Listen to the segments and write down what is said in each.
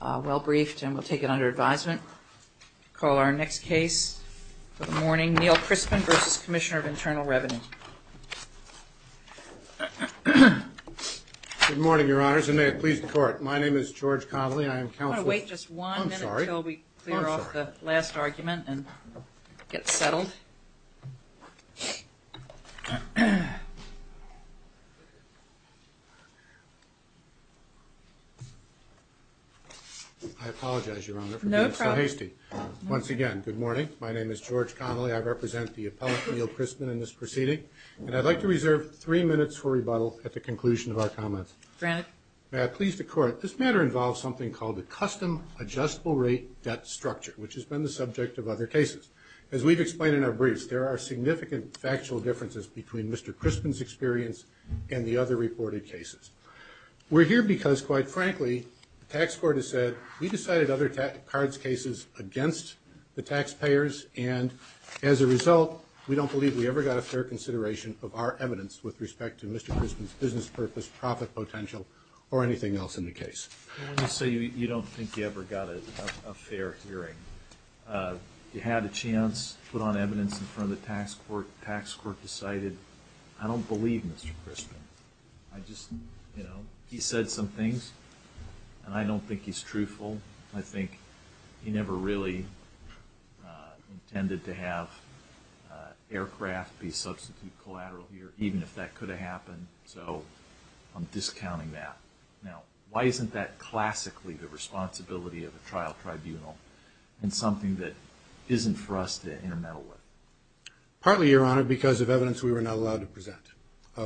Well briefed and we'll take it under advisement. Call our next case for the morning, Neil Crispin v. Commissioner of Internal Revenue. Good morning, Your Honors, and may it please the Court. My name is George Connolly. I am counsel... I'm sorry. I'm sorry. I'll wait just one minute until we clear off the last argument and get settled. I apologize, Your Honor, for being so hasty. Once again, good morning. My name is George Connolly. I represent the appellate, Neil Crispin, in this proceeding, and I'd like to reserve three minutes for rebuttal at the conclusion of our comments. Grant. May it please the Court. This matter involves something called a custom adjustable rate debt structure, which has been the subject of other cases. As we've explained in our briefs, there are significant factual differences between Mr. Crispin's experience and the other reported cases. We're here because, quite frankly, the tax court has said, we decided other cards cases against the taxpayers, and as a result, we don't believe we ever got a fair consideration of our evidence with respect to Mr. Crispin's business purpose, profit potential, or anything else in the case. Let me say you don't think you ever got a fair hearing. You had a chance to put on evidence in front of the tax court. The tax court, and I don't think he's truthful. I think he never really intended to have aircraft be substituted collateral here, even if that could have happened, so I'm discounting that. Now, why isn't that classically the responsibility of a trial tribunal, and something that isn't for us to intermeddle with? Partly, Your Honor, because of evidence we were not allowed to I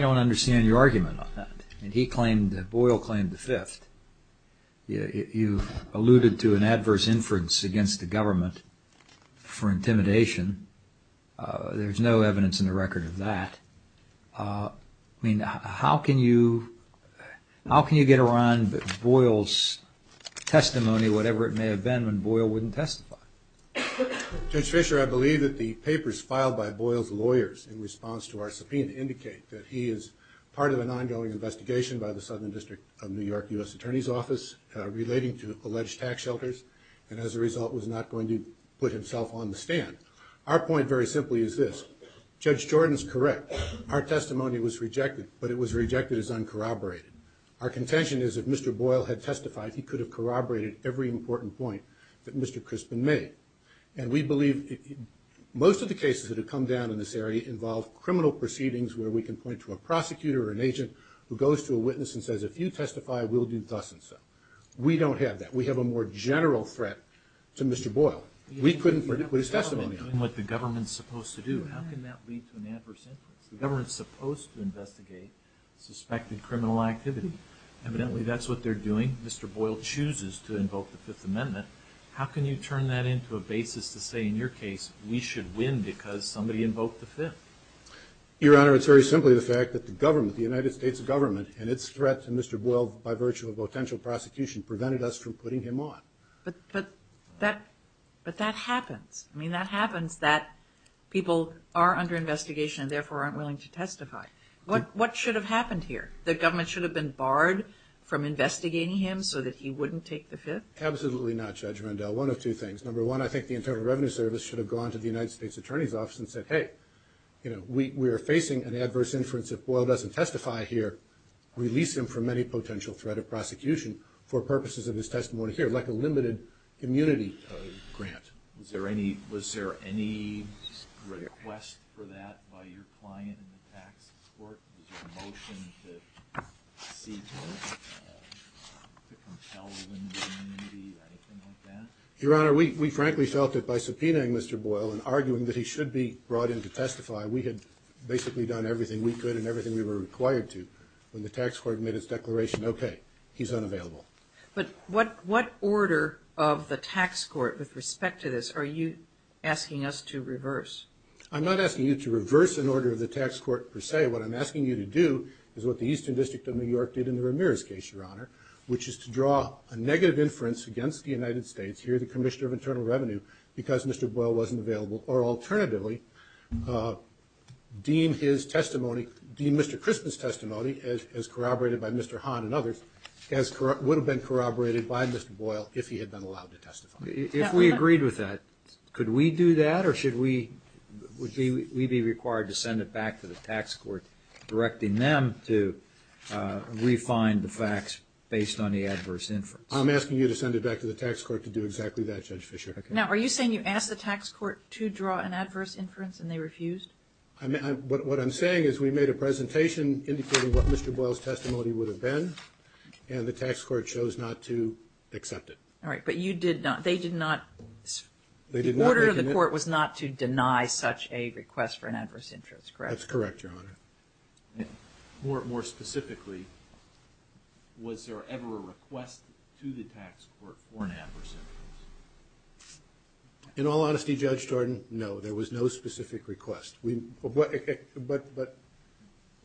don't understand your argument on that. Boyle claimed the fifth. You alluded to an adverse inference against the government for intimidation. There's no evidence in the record of that. I mean, how can you get around Boyle's testimony, whatever it may have been, when Boyle wouldn't testify? Judge Fisher, I believe that the papers filed by Boyle's lawyers in response to our subpoena indicate that he is part of an ongoing investigation by the Southern District of New York U.S. Attorney's Office relating to alleged tax shelters, and as a result, was not going to put himself on the stand. Our point, very simply, is this. Judge Jordan's correct. Our testimony was rejected, but it was rejected as uncorroborated. Our contention is if Mr. Boyle had testified, he could have corroborated every important point that Mr. Crispin made, and we believe most of the cases that have come down in this area involve criminal proceedings where we can point to a prosecutor or an agent who goes to a witness and says, if you testify, we'll do thus and so. We don't have that. We have a more general threat to Mr. Boyle. We couldn't put his testimony on the stand. You have the government doing what the government's supposed to do. How can that lead to an adverse influence? The government's supposed to investigate suspected criminal activity. Evidently, that's what they're doing. Mr. Boyle chooses to invoke the Fifth Amendment. How can you turn that into a basis to say, in your case, we should win because somebody invoked the Fifth? Your Honor, it's very simply the fact that the government, the United States government, and its threat to Mr. Boyle by virtue of potential prosecution prevented us from putting him on. But that happens. I mean, that happens that people are under investigation and therefore aren't willing to testify. What should have happened here? The government should have been barred from investigating him so that he wouldn't take the Fifth? Absolutely not, Judge Rundell. One of two things. Number one, I think the Internal Revenue Service should have gone to the United States Attorney's Office and said, hey, we are facing an adverse influence. If Boyle doesn't testify here, release him from any potential threat of prosecution for purposes of his testimony here, like a limited immunity grant. Was there any request for that by your client in the tax court? Was there a motion to seize him, to compel him to immunity, anything like that? Your Honor, we frankly felt that by subpoenaing Mr. Boyle and arguing that he should be brought in to testify, we had basically done everything we could and everything we were required to when the tax court made its declaration, okay, he's unavailable. But what order of the tax court with respect to this are you asking us to reverse? I'm not asking you to reverse an order of the tax court per se. What I'm asking you to do is what the Eastern District of New York did in the Ramirez case, Your Honor, which is to draw a negative inference against the United States, here the Commissioner of Justice deemed his testimony, deemed Mr. Crispin's testimony as corroborated by Mr. Hahn and others as would have been corroborated by Mr. Boyle if he had been allowed to testify. If we agreed with that, could we do that or should we be required to send it back to the tax court directing them to refine the facts based on the adverse inference? I'm asking you to send it back to the tax court to do exactly that, Judge Fischer. Now, are you saying you asked the tax court to draw an adverse inference and they refused? What I'm saying is we made a presentation indicating what Mr. Boyle's testimony would have been and the tax court chose not to accept it. All right, but you did not, they did not, the order of the court was not to deny such a request for an adverse inference, correct? That's correct, Your Honor. More specifically, was there ever a request to the tax court for an adverse inference? In all honesty, Judge Jordan, no, there was no specific request. Well,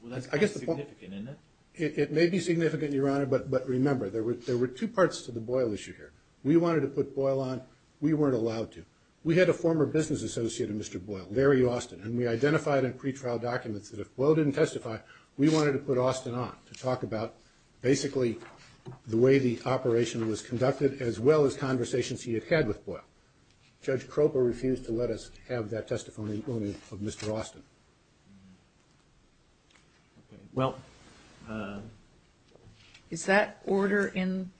that's kind of significant, isn't it? It may be significant, Your Honor, but remember, there were two parts to the Boyle issue here. We wanted to put Boyle on, we weren't allowed to. We had a former business associate of Mr. Boyle, Larry Austin, and we identified in pretrial documents that if Boyle didn't testify, we wanted to put Austin on to talk about basically the way the operation was conducted as well as conversations he had had with Boyle. Judge Kropa refused to let us have that testimony of Mr. Austin. Well, is that order in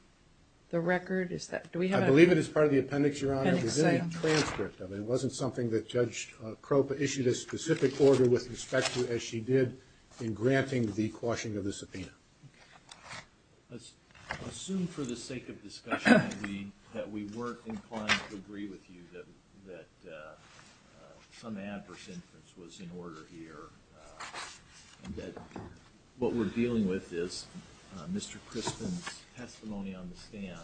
the record? I believe it is part of the appendix, Your Honor, it was in the transcript of it. It wasn't something that Judge Kropa issued a specific order with respect to as she did in granting the quashing of the subpoena. Let's assume for the sake of discussion that we weren't inclined to agree with you that some adverse inference was in order here and that what we're dealing with is Mr. Crispin's testimony on the stand,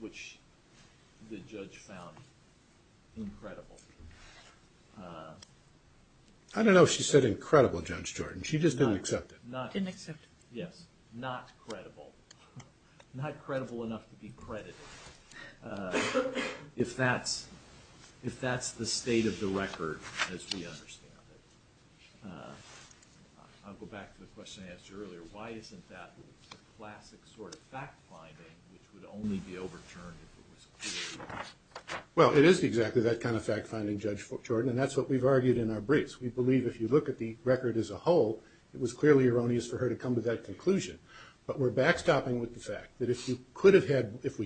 which the judge found incredible. I don't know if she said incredible, Judge Jordan, she just didn't accept it. Didn't accept it? Yes. Not credible. Not credible enough to be credited. If that's the state of the record as we understand it. I'll go back to the question I asked you earlier. Why isn't that the classic sort of fact-finding which would only be overturned if it was credited? Well, it is exactly that kind of fact-finding, Judge Jordan, and that's what we've argued in our briefs. We believe if you look at the record as a whole, it was clearly erroneous for her to come to that conclusion. But we're backstopping with the fact that if we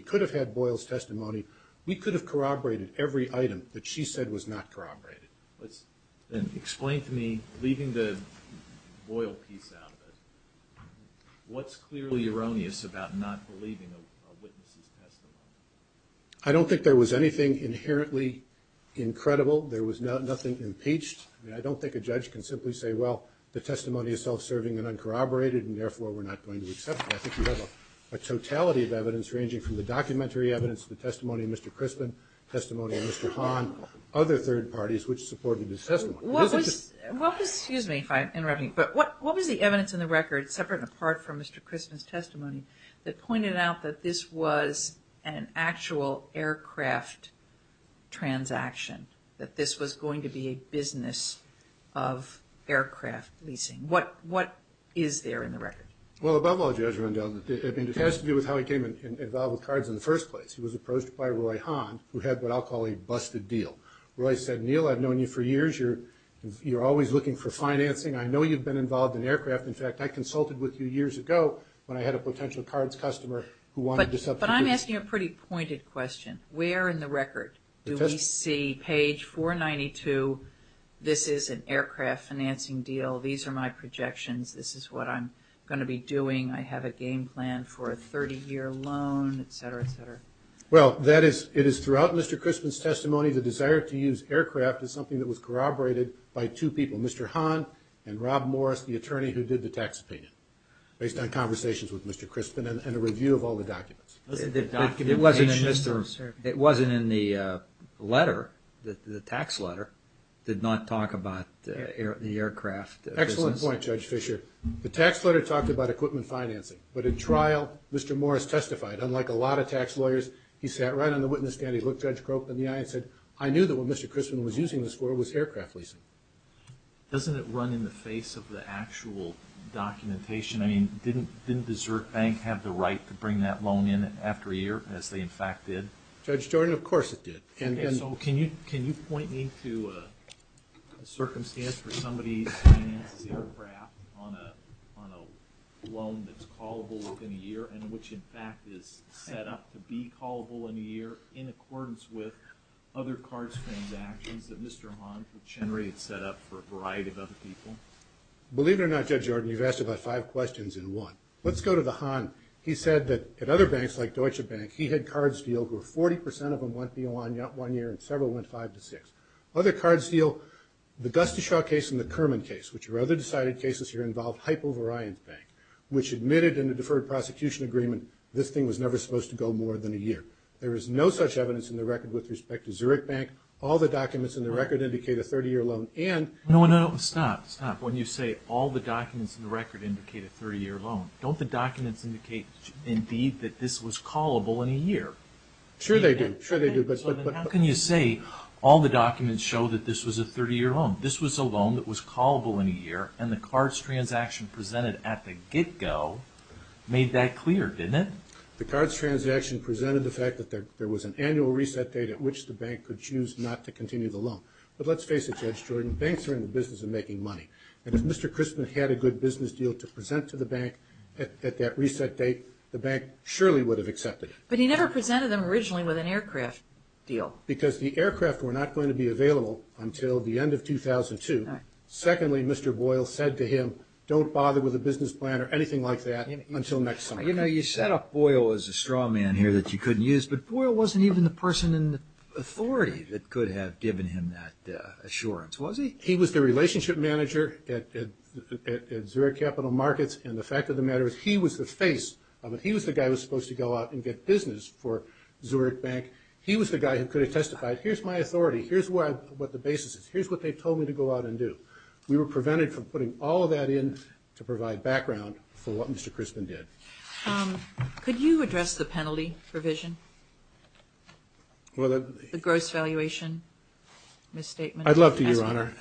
could have had Boyle's testimony, we could have corroborated every item that she said was not corroborated. Explain to me, leaving the Boyle piece out of it, what's clearly erroneous about not believing a witness' testimony? I don't think there was anything inherently incredible. There was nothing impeached. I don't think a judge can simply say, well, the testimony is self-serving and uncorroborated, and therefore we're not going to accept it. I think you have a totality of evidence ranging from the documentary evidence, the testimony of Mr. Crispin, testimony of Mr. Hahn, other third parties which supported his testimony. What was, excuse me if I'm interrupting, but what was the evidence in the record, separate and apart from Mr. Crispin's testimony, that pointed out that this was an actual aircraft transaction, that this was going to be a business of aircraft leasing? What is there in the record? Well, above all, Judge Rundell, it has to do with how he came involved with cards in the first place. He was approached by Roy Hahn, who had what I'll call a busted deal. Roy said, Neil, I've known you for years. You're always looking for financing. I know you've been involved in aircraft. In fact, I consulted with you years ago when I had a potential cards customer who wanted this up to business. But I'm asking a pretty pointed question. Where in the record do we see page 492, this is an aircraft financing deal, these are my projections, this is what I'm going to be doing, I have a game plan for a 30-year loan, et cetera, et cetera? Well, that is, it is throughout Mr. Crispin's testimony, the desire to use aircraft is something that was corroborated by two people, Mr. Hahn and Rob Morris, the attorney who did the tax opinion, based on conversations with Mr. Crispin and a review of all the documents. It wasn't in the letter, the tax letter, did not talk about the aircraft. Excellent point, Judge Fischer. The tax letter talked about equipment financing. But at trial, Mr. Morris testified, unlike a lot of tax lawyers, he sat right on the witness stand, he looked Judge Croak in the eye and said, I knew that what Mr. Crispin was using in this court was aircraft leasing. Doesn't it run in the face of the actual documentation? I mean, didn't Desert Bank have the right to bring that loan in after a year, as they in fact did? Judge Jordan, of course it did. So can you point me to a circumstance where somebody finances aircraft on a loan that's callable within a year and which in fact is set up to be callable in a year in accordance with other cards transactions that Mr. Hahn would generate set up for a variety of other people? Believe it or not, Judge Jordan, you've asked about five questions in one. Let's go to the Hahn. He said that at other banks, like Deutsche Bank, he had cards deal where 40% of them went beyond one year and several went five to six. Other cards deal, the Gustashow case and the Kerman case, which were other decided cases here, involved Hypo Varyant Bank, which admitted in the deferred prosecution agreement, this thing was never supposed to go more than a year. There is no such evidence in the record with respect to Zurich Bank. All the documents in the record indicate a 30-year loan and- No, no, no. Stop, stop. When you say all the documents in the record indicate a 30-year loan, don't the documents indicate indeed that this was callable in a year? Sure they do. Sure they do, but- How can you say all the documents show that this was a 30-year loan? This was a loan that was callable in a year and the cards transaction presented at the get-go made that clear, didn't it? The cards transaction presented the fact that there was an annual reset date at which the bank could choose not to continue the loan. But let's face it, Judge Jordan, banks are in the business of making money. And if Mr. Christman had a good business deal to present to the bank, at that reset date, the bank surely would have accepted it. But he never presented them originally with an aircraft deal. Because the aircraft were not going to be available until the end of 2002. Secondly, Mr. Boyle said to him, don't bother with a business plan or anything like that until next summer. You know, you set up Boyle as a straw man here that you couldn't use, but Boyle wasn't even the person in authority that could have given him that assurance, was he? He was the relationship manager at Zurich Capital Markets. And the fact of the matter is he was the face of it. He was the guy who was supposed to go out and get business for Zurich Bank. He was the guy who could have testified, here's my authority. Here's what the basis is. Here's what they told me to go out and do. We were prevented from putting all of that in to provide background for what Mr. Christman did. Could you address the penalty provision? The gross valuation misstatement? I'd love to, Your Honor.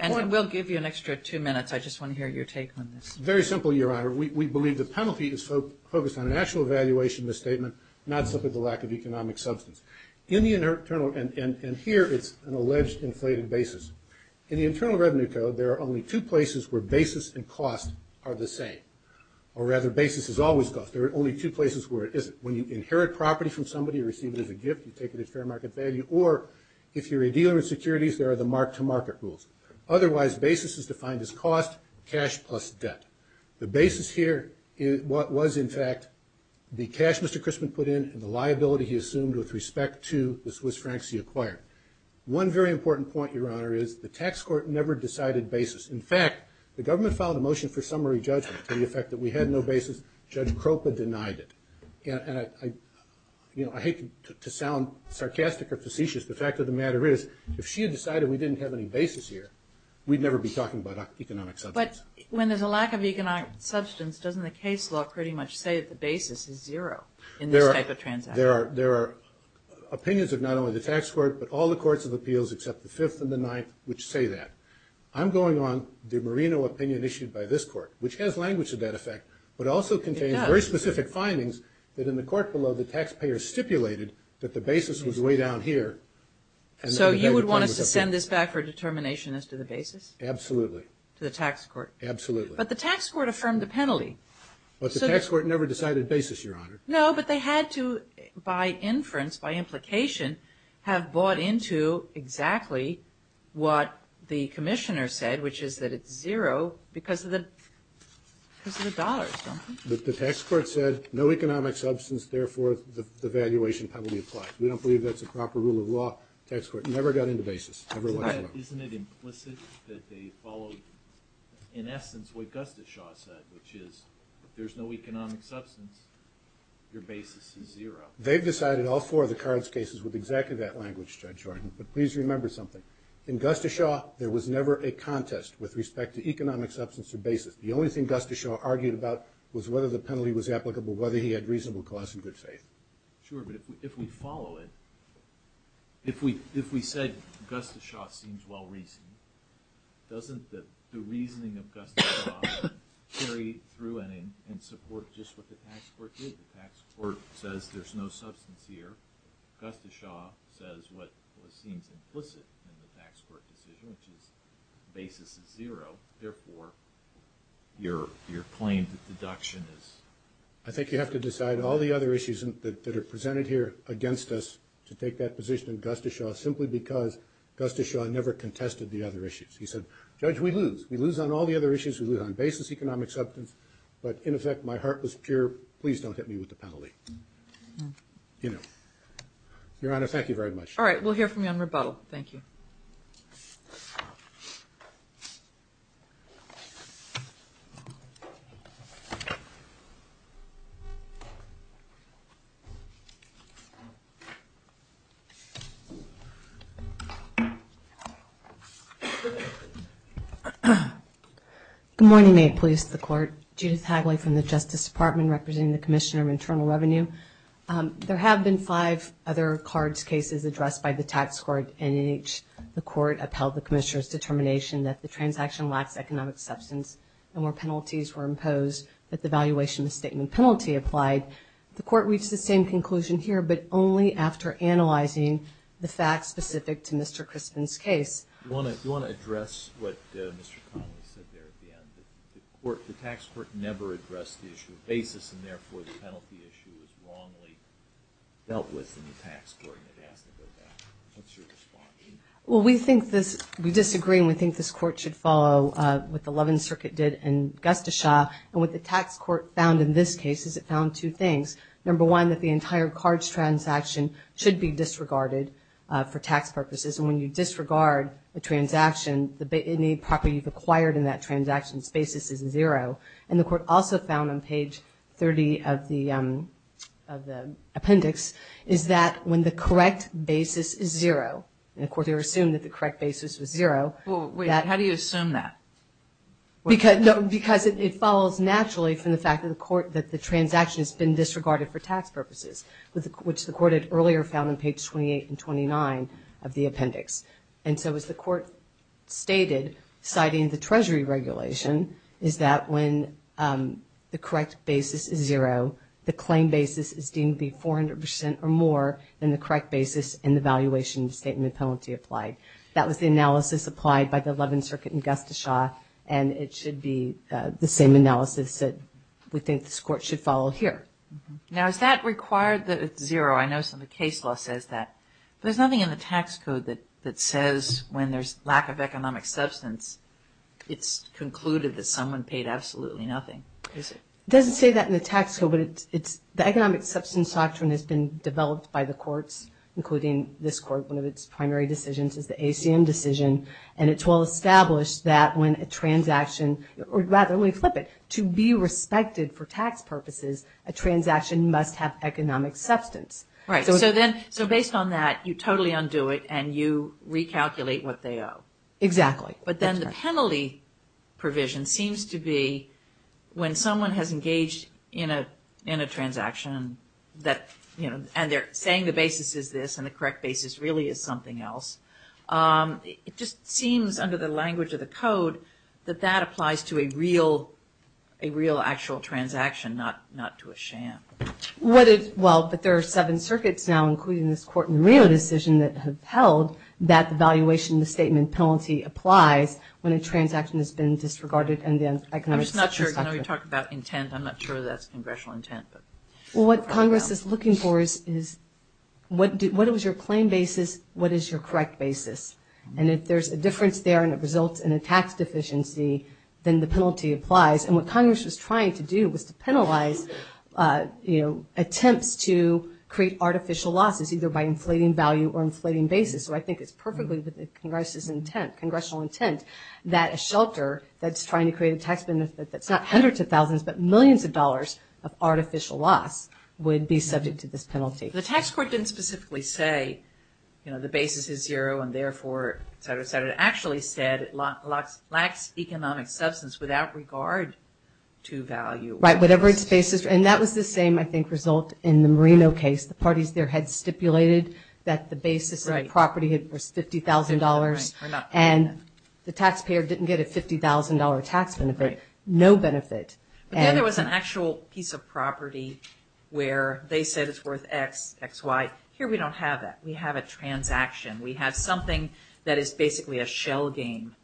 And we'll give you an extra two minutes. I just want to hear your take on this. Very simple, Your Honor. We believe the penalty is focused on an actual valuation misstatement, not simply the lack of economic substance. In the internal, and here it's an alleged inflated basis. In the Internal Revenue Code, there are only two places where basis and cost are the same. Or rather, basis is always cost. There are only two places where it isn't. When you inherit property from somebody, you receive it as a gift, you take it as fair market value. Or, if you're a dealer in securities, there are the mark-to-market rules. Otherwise, basis is defined as cost, cash plus debt. The basis here was, in fact, the cash Mr. Christman put in and the liability he assumed with respect to the Swiss francs he acquired. One very important point, Your Honor, is the tax court never decided basis. In fact, the government filed a motion for summary judgment to the effect that we had no basis. Judge Kropa denied it. And I hate to sound sarcastic or facetious, the fact of the matter is, if she had decided we didn't have any basis here, we'd never be talking about economic substance. But when there's a lack of economic substance, doesn't the case law pretty much say that the basis is zero in this type of transaction? There are opinions of not only the tax court, but all the courts of appeals except the Fifth and the Ninth, which say that. I'm going on the Marino opinion issued by this court, which has language to that effect, but also contains very specific findings that in the court below the taxpayer stipulated that the basis was way down here. So you would want us to send this back for determination as to the basis? Absolutely. To the tax court? Absolutely. But the tax court affirmed the penalty. But the tax court never decided basis, Your Honor. No, but they had to, by inference, by implication, have bought into exactly what the commissioner said, which is that it's zero because of the dollars, don't they? The tax court said, no economic substance, therefore, the valuation probably applies. We don't believe that's a proper rule of law. Tax court never got into basis, ever once in a while. Isn't it implicit that they followed, in essence, what Gustafshaw said, which is, if there's no economic substance, your basis is zero? They've decided all four of the cards cases with exactly that language, Judge Horton. But please remember something. In Gustafshaw, there was never a contest with respect to economic substance or basis. The only thing Gustafshaw argued about was whether the penalty was applicable, whether he had reasonable cause and good faith. Sure, but if we follow it, if we said Gustafshaw seems well-reasoned, doesn't the reasoning of Gustafshaw carry through and support just what the tax court did? The tax court says there's no substance here. Gustafshaw says what seems implicit in the tax court decision, which is basis is zero, therefore, your claim to deduction is... I think you have to decide all the other issues that are presented here against us to take that position in Gustafshaw, simply because Gustafshaw never contested the other issues. He said, Judge, we lose. We lose on all the other issues. We lose on basis, economic substance. But in effect, my heart was pure. Please don't hit me with the penalty. Your Honor, thank you very much. All right, we'll hear from you on rebuttal. Thank you. Good morning, may it please the court. Judith Hagley from the Justice Department, representing the Commissioner of Internal Revenue. There have been five other cards cases addressed by the tax court, and in each, the court upheld the Commissioner's determination that the transaction lacks economic substance, and where penalties were imposed, that the valuation of the statement penalty applied. The court reached the same conclusion here, but only after analyzing the facts specific to Mr. Crispin's case. Do you want to address what Mr. Connolly said there at the end? The tax court never addressed the issue of basis, and therefore, the penalty issue was wrongly dealt with in the tax court, and it has to go back. What's your response? Well, we think this, we disagree, and we think this court should follow what the Levin Circuit did in Gustafsha, and what the tax court found in this case is it found two things. Number one, that the entire cards transaction should be disregarded for tax purposes, and when you disregard a transaction, any property acquired in that transaction's basis is zero, and the court also found on page 30 of the appendix is that when the correct basis is zero, and of course, they assumed that the correct basis was zero. Well, wait, how do you assume that? Because it follows naturally from the fact that the court, that the transaction has been disregarded for tax purposes, which the court had earlier found on page 28 and 29 of the appendix, and so as the court stated, citing the Treasury regulation, is that when the correct basis is zero, the claim basis is deemed to be 400 percent or more than the correct basis in the valuation of the statement of penalty applied. That was the analysis applied by the Levin Circuit in Gustafsha, and it should be the same analysis that we think this court should follow here. Now, is that required that it's zero? I know some of the case law says that, but there's nothing in the tax code that says when there's lack of economic substance, it's concluded that someone paid absolutely nothing, is it? It doesn't say that in the tax code, but the economic substance doctrine has been developed by the courts, including this court. One of its primary decisions is the ACM decision, and it's well established that when a transaction, or rather, let me flip it, to be respected for tax purposes, a transaction must have economic substance. Right, so based on that, you totally undo it, and you recalculate what they owe. Exactly. But then the penalty provision seems to be when someone has engaged in a transaction, and they're saying the basis is this, and the correct basis really is something else, it just seems under the language of the code that that applies to a real actual transaction, not to a sham. What is, well, but there are seven circuits now, including this court in Rio decision, that have held that the valuation in the statement penalty applies when a transaction has been disregarded in the economic substance doctrine. I'm just not sure, I know you talked about intent, I'm not sure that's congressional intent, but. Well, what Congress is looking for is, what was your claim basis, what is your correct basis? And if there's a difference there, and it results in a tax deficiency, then the penalty applies. And what Congress was trying to do was to penalize attempts to create artificial losses, either by inflating value or inflating basis. So I think it's perfectly with Congress's intent, congressional intent, that a shelter that's trying to create a tax benefit that's not hundreds of thousands, but millions of dollars of artificial loss would be subject to this penalty. The tax court didn't specifically say, the basis is zero, and therefore, et cetera, et cetera. It actually said it lacks economic substance without regard to value. Whatever its basis, and that was the same, I think, result in the Marino case. The parties there had stipulated that the basis of the property was $50,000, and the taxpayer didn't get a $50,000 tax benefit, no benefit. But then there was an actual piece of property where they said it's worth X, XY. Here, we don't have that. We have a transaction. We have something that is basically a shell game.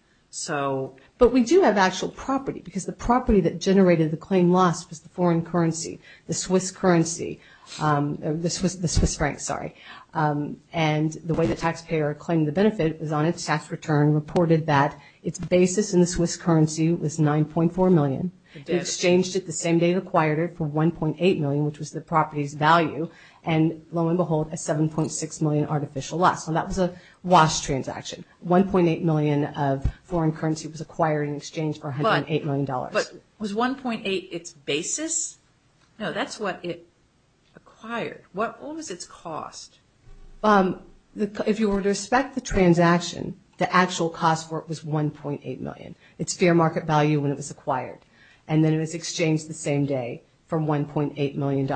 But we do have actual property, because the property that generated the claim loss was the foreign currency, the Swiss currency, the Swiss franc, sorry. And the way the taxpayer claimed the benefit was on its tax return reported that its basis in the Swiss currency was $9.4 million. It exchanged it the same day it acquired it for $1.8 million, which was the property's value, and lo and behold, a $7.6 million artificial loss. So that was a wash transaction. $1.8 million of foreign currency was acquired in exchange for $108 million. But was $1.8 its basis? No, that's what it acquired. What was its cost? If you were to respect the transaction, the actual cost for it was $1.8 million. It's fair market value when it was acquired, and then it was exchanged the same day for $1.8 million.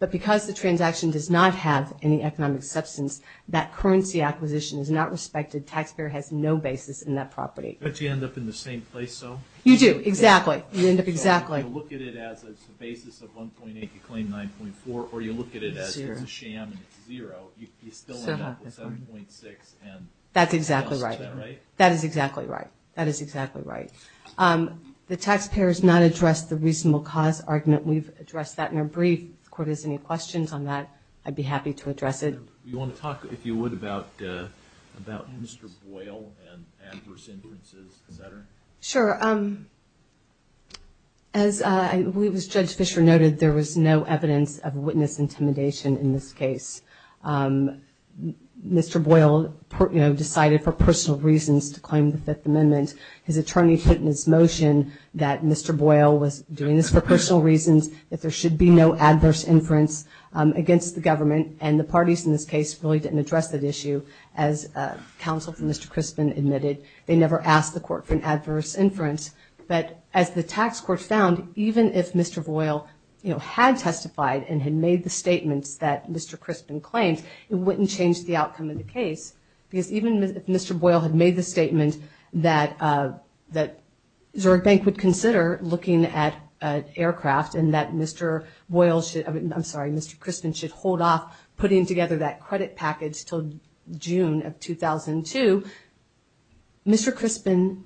But because the transaction does not have any economic substance, that currency acquisition is not respected. Taxpayer has no basis in that property. Don't you end up in the same place, though? You do, exactly. You end up exactly. You look at it as a basis of $1.8, you claim $9.4, or you look at it as it's a sham and it's zero. You still end up with $7.6 and... That's exactly right. Is that right? That is exactly right. That is exactly right. The taxpayer has not addressed the reasonable cause argument. We've addressed that in our brief. If the court has any questions on that, I'd be happy to address it. We want to talk, if you would, about Mr. Boyle and adverse inferences, et cetera. Sure. As I believe as Judge Fisher noted, there was no evidence of witness intimidation in this case. Mr. Boyle decided for personal reasons to claim the Fifth Amendment. His attorney put in his motion that Mr. Boyle was doing this for personal reasons, that there should be no adverse inference against the government, and the parties in this case really didn't address that issue as counsel for Mr. Crispin admitted. They never asked the court for an adverse inference, but as the tax court found, even if Mr. Boyle had testified and had made the statements that Mr. Crispin claimed, it wouldn't change the outcome of the case because even if Mr. Boyle had made the statement that Zurich Bank would consider looking at aircraft and that Mr. Boyle should... I'm sorry, Mr. Crispin should hold off putting together that credit package till June of 2002, Mr. Crispin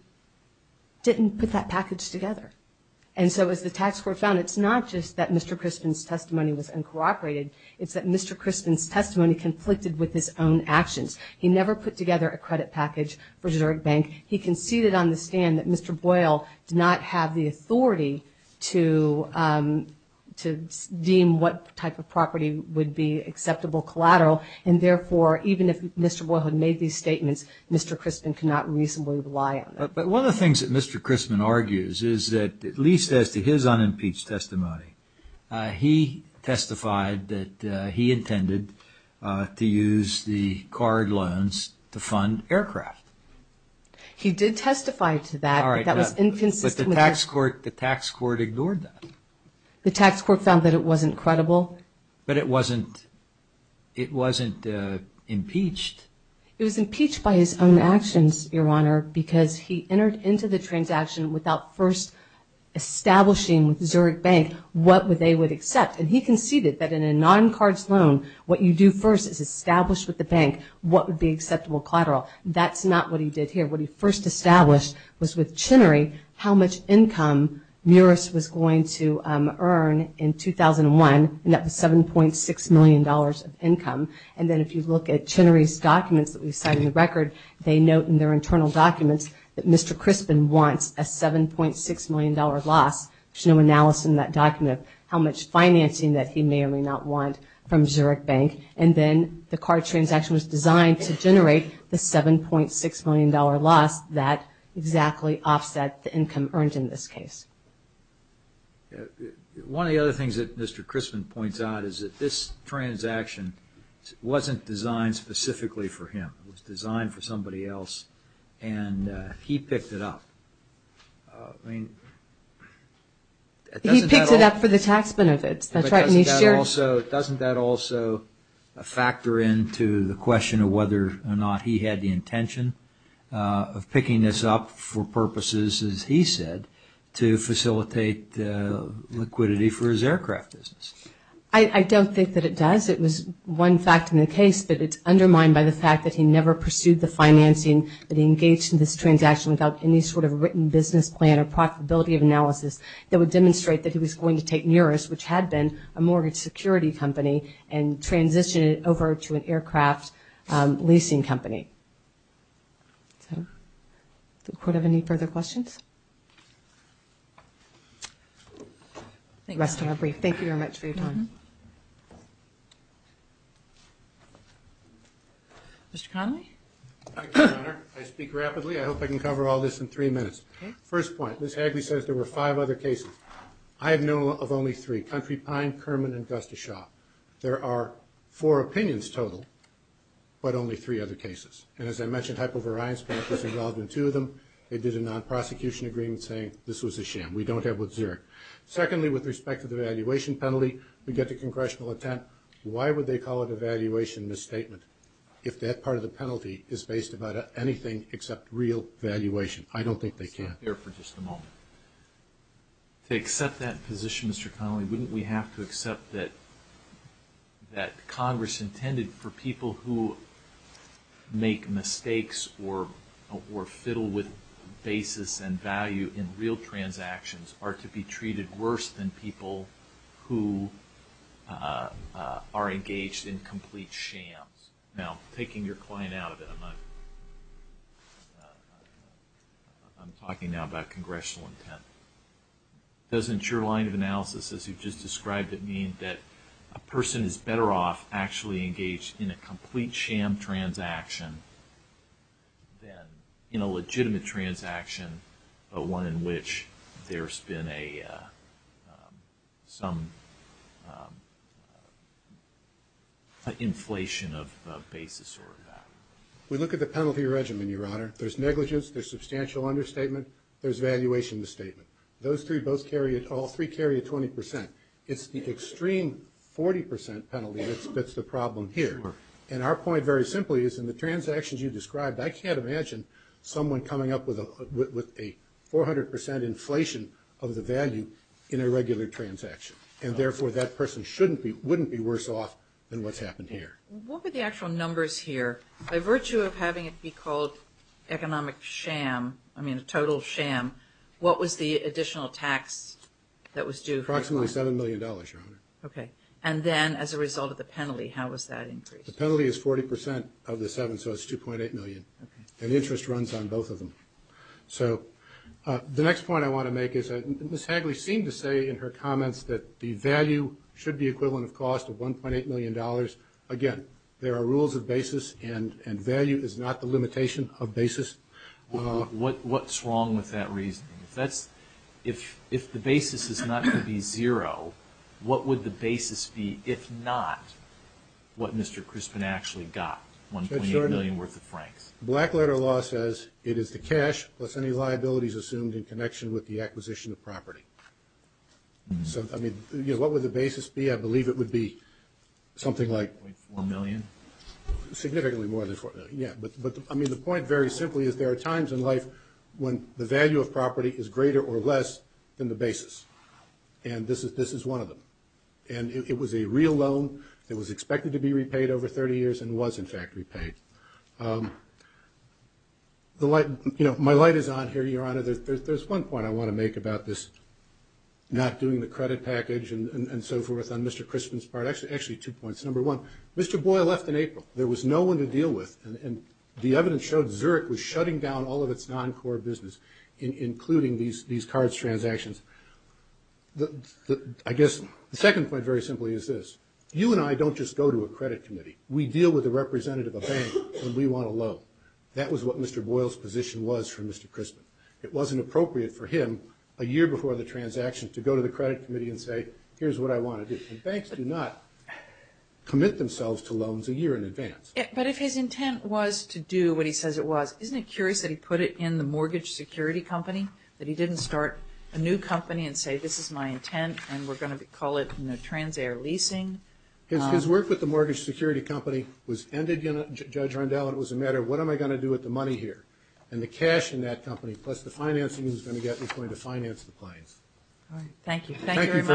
didn't put that package together. And so as the tax court found, it's not just that Mr. Crispin's testimony was uncooperated, it's that Mr. Crispin's testimony conflicted with his own actions. He never put together a credit package for Zurich Bank. He conceded on the stand that Mr. Boyle did not have the authority to deem what type of property would be acceptable collateral, and therefore, even if Mr. Boyle had made these statements, Mr. Crispin could not reasonably rely on them. But one of the things that Mr. Crispin argues is that at least as to his unimpeached testimony, he testified that he intended to use the card loans to fund aircraft. He did testify to that, but that was inconsistent with his... But the tax court ignored that. The tax court found that it wasn't credible. But it wasn't impeached. It was impeached by his own actions, Your Honor, because he entered into the transaction without first establishing with Zurich Bank what they would accept. And he conceded that in a non-cards loan, what you do first is establish with the bank what would be acceptable collateral. That's not what he did here. What he first established was with Chinnery how much income Muris was going to earn in 2001, and that was $7.6 million of income. And then if you look at Chinnery's documents that we've cited in the record, they note in their internal documents that Mr. Crispin wants a $7.6 million loss. There's no analysis in that document of how much financing that he may or may not want from Zurich Bank. And then the card transaction was designed to generate the $7.6 million loss that exactly offset the income earned in this case. So one of the other things that Mr. Crispin points out is that this transaction wasn't designed specifically for him. It was designed for somebody else, and he picked it up. I mean, doesn't that also... He picked it up for the tax benefits. That's right, and he shared... Doesn't that also factor into the question of whether or not he had the intention of picking this up for purposes, as he said, to facilitate liquidity for his aircraft business? I don't think that it does. It was one fact in the case, but it's undermined by the fact that he never pursued the financing that he engaged in this transaction without any sort of written business plan or profitability of analysis that would demonstrate that he was going to take Neurist, which had been a mortgage security company, and transition it over to an aircraft leasing company. So, do we have any further questions? Thank you. Rest of our brief. Thank you very much for your time. Mr. Connolly? Thank you, Your Honor. I speak rapidly. I hope I can cover all this in three minutes. First point, Ms. Hagley says there were five other cases. I have known of only three, Country Pine, Kerman, and Gustafshaw. There are four opinions total, but only three other cases. And as I mentioned, Hypovariance Bank was involved in two of them. They did a non-prosecution agreement saying this was a sham. We don't have what's there. Secondly, with respect to the valuation penalty, we get the congressional attempt. Why would they call it a valuation misstatement if that part of the penalty is based about anything except real valuation? I don't think they can. I'll stop there for just a moment. To accept that position, Mr. Connolly, wouldn't we have to accept that Congress intended for people who make mistakes or fiddle with basis and value in real transactions are to be treated worse than people who are engaged in complete shams? Now, taking your client out of it, I'm talking now about congressional intent. Doesn't your line of analysis, as you've just described it, mean that a person is better off actually engaged in a complete sham transaction than in a legitimate transaction, one in which there's been some inflation of basis or value? We look at the penalty regimen, Your Honor. There's negligence. There's substantial understatement. There's valuation misstatement. Those three both carry at all. Three carry at 20%. It's the extreme 40% penalty that's the problem here. And our point, very simply, is in the transactions you described, I can't imagine someone coming up with a 400% inflation of the value in a regular transaction. And therefore, that person wouldn't be worse off than what's happened here. What were the actual numbers here? By virtue of having it be called economic sham, I mean a total sham, what was the additional tax that was due? Approximately $7 million, Your Honor. Okay. And then as a result of the penalty, how was that increased? The penalty is 40% of the 7, so it's $2.8 million. Okay. And interest runs on both of them. So the next point I want to make is Ms. Hagley seemed to say in her comments that the value should be equivalent of cost of $1.8 million. Again, there are rules of basis and value is not the limitation of basis. What's wrong with that reasoning? If the basis is not going to be zero, what would the basis be if not what Mr. Crispin actually got? $1.8 million worth of francs. Blackletter law says it is the cash plus any liabilities assumed in connection with the acquisition of property. So, I mean, what would the basis be? I believe it would be something like... $1.4 million? Significantly more than $1.4 million. Yeah, but I mean the point very simply is there are times in life when the value of property is greater or less than the basis and this is one of them. And it was a real loan that was expected to be repaid over 30 years and was in fact repaid. My light is on here, Your Honor. There's one point I want to make about this not doing the credit package and so forth on Mr. Crispin's part. Actually, two points. Number one, Mr. Boyle left in April. There was no one to deal with and the evidence showed Zurich was shutting down all of its non-core business including these cards transactions. I guess the second point very simply is this. You and I don't just go to a credit committee. We deal with a representative of a bank and we want a loan. That was what Mr. Boyle's position was for Mr. Crispin. It wasn't appropriate for him a year before the transaction to go to the credit committee and say here's what I want to do. Banks do not commit themselves to loans a year in advance. But if his intent was to do what he says it was, isn't it curious that he put it in the mortgage security company? That he didn't start a new company and say this is my intent and we're going to call it trans-air leasing? His work with the mortgage security company was ended, Judge Rondell, and it was a matter of what am I going to do with the money here? And the cash in that company plus the financing he was going to get was going to finance the plans. Thank you very much.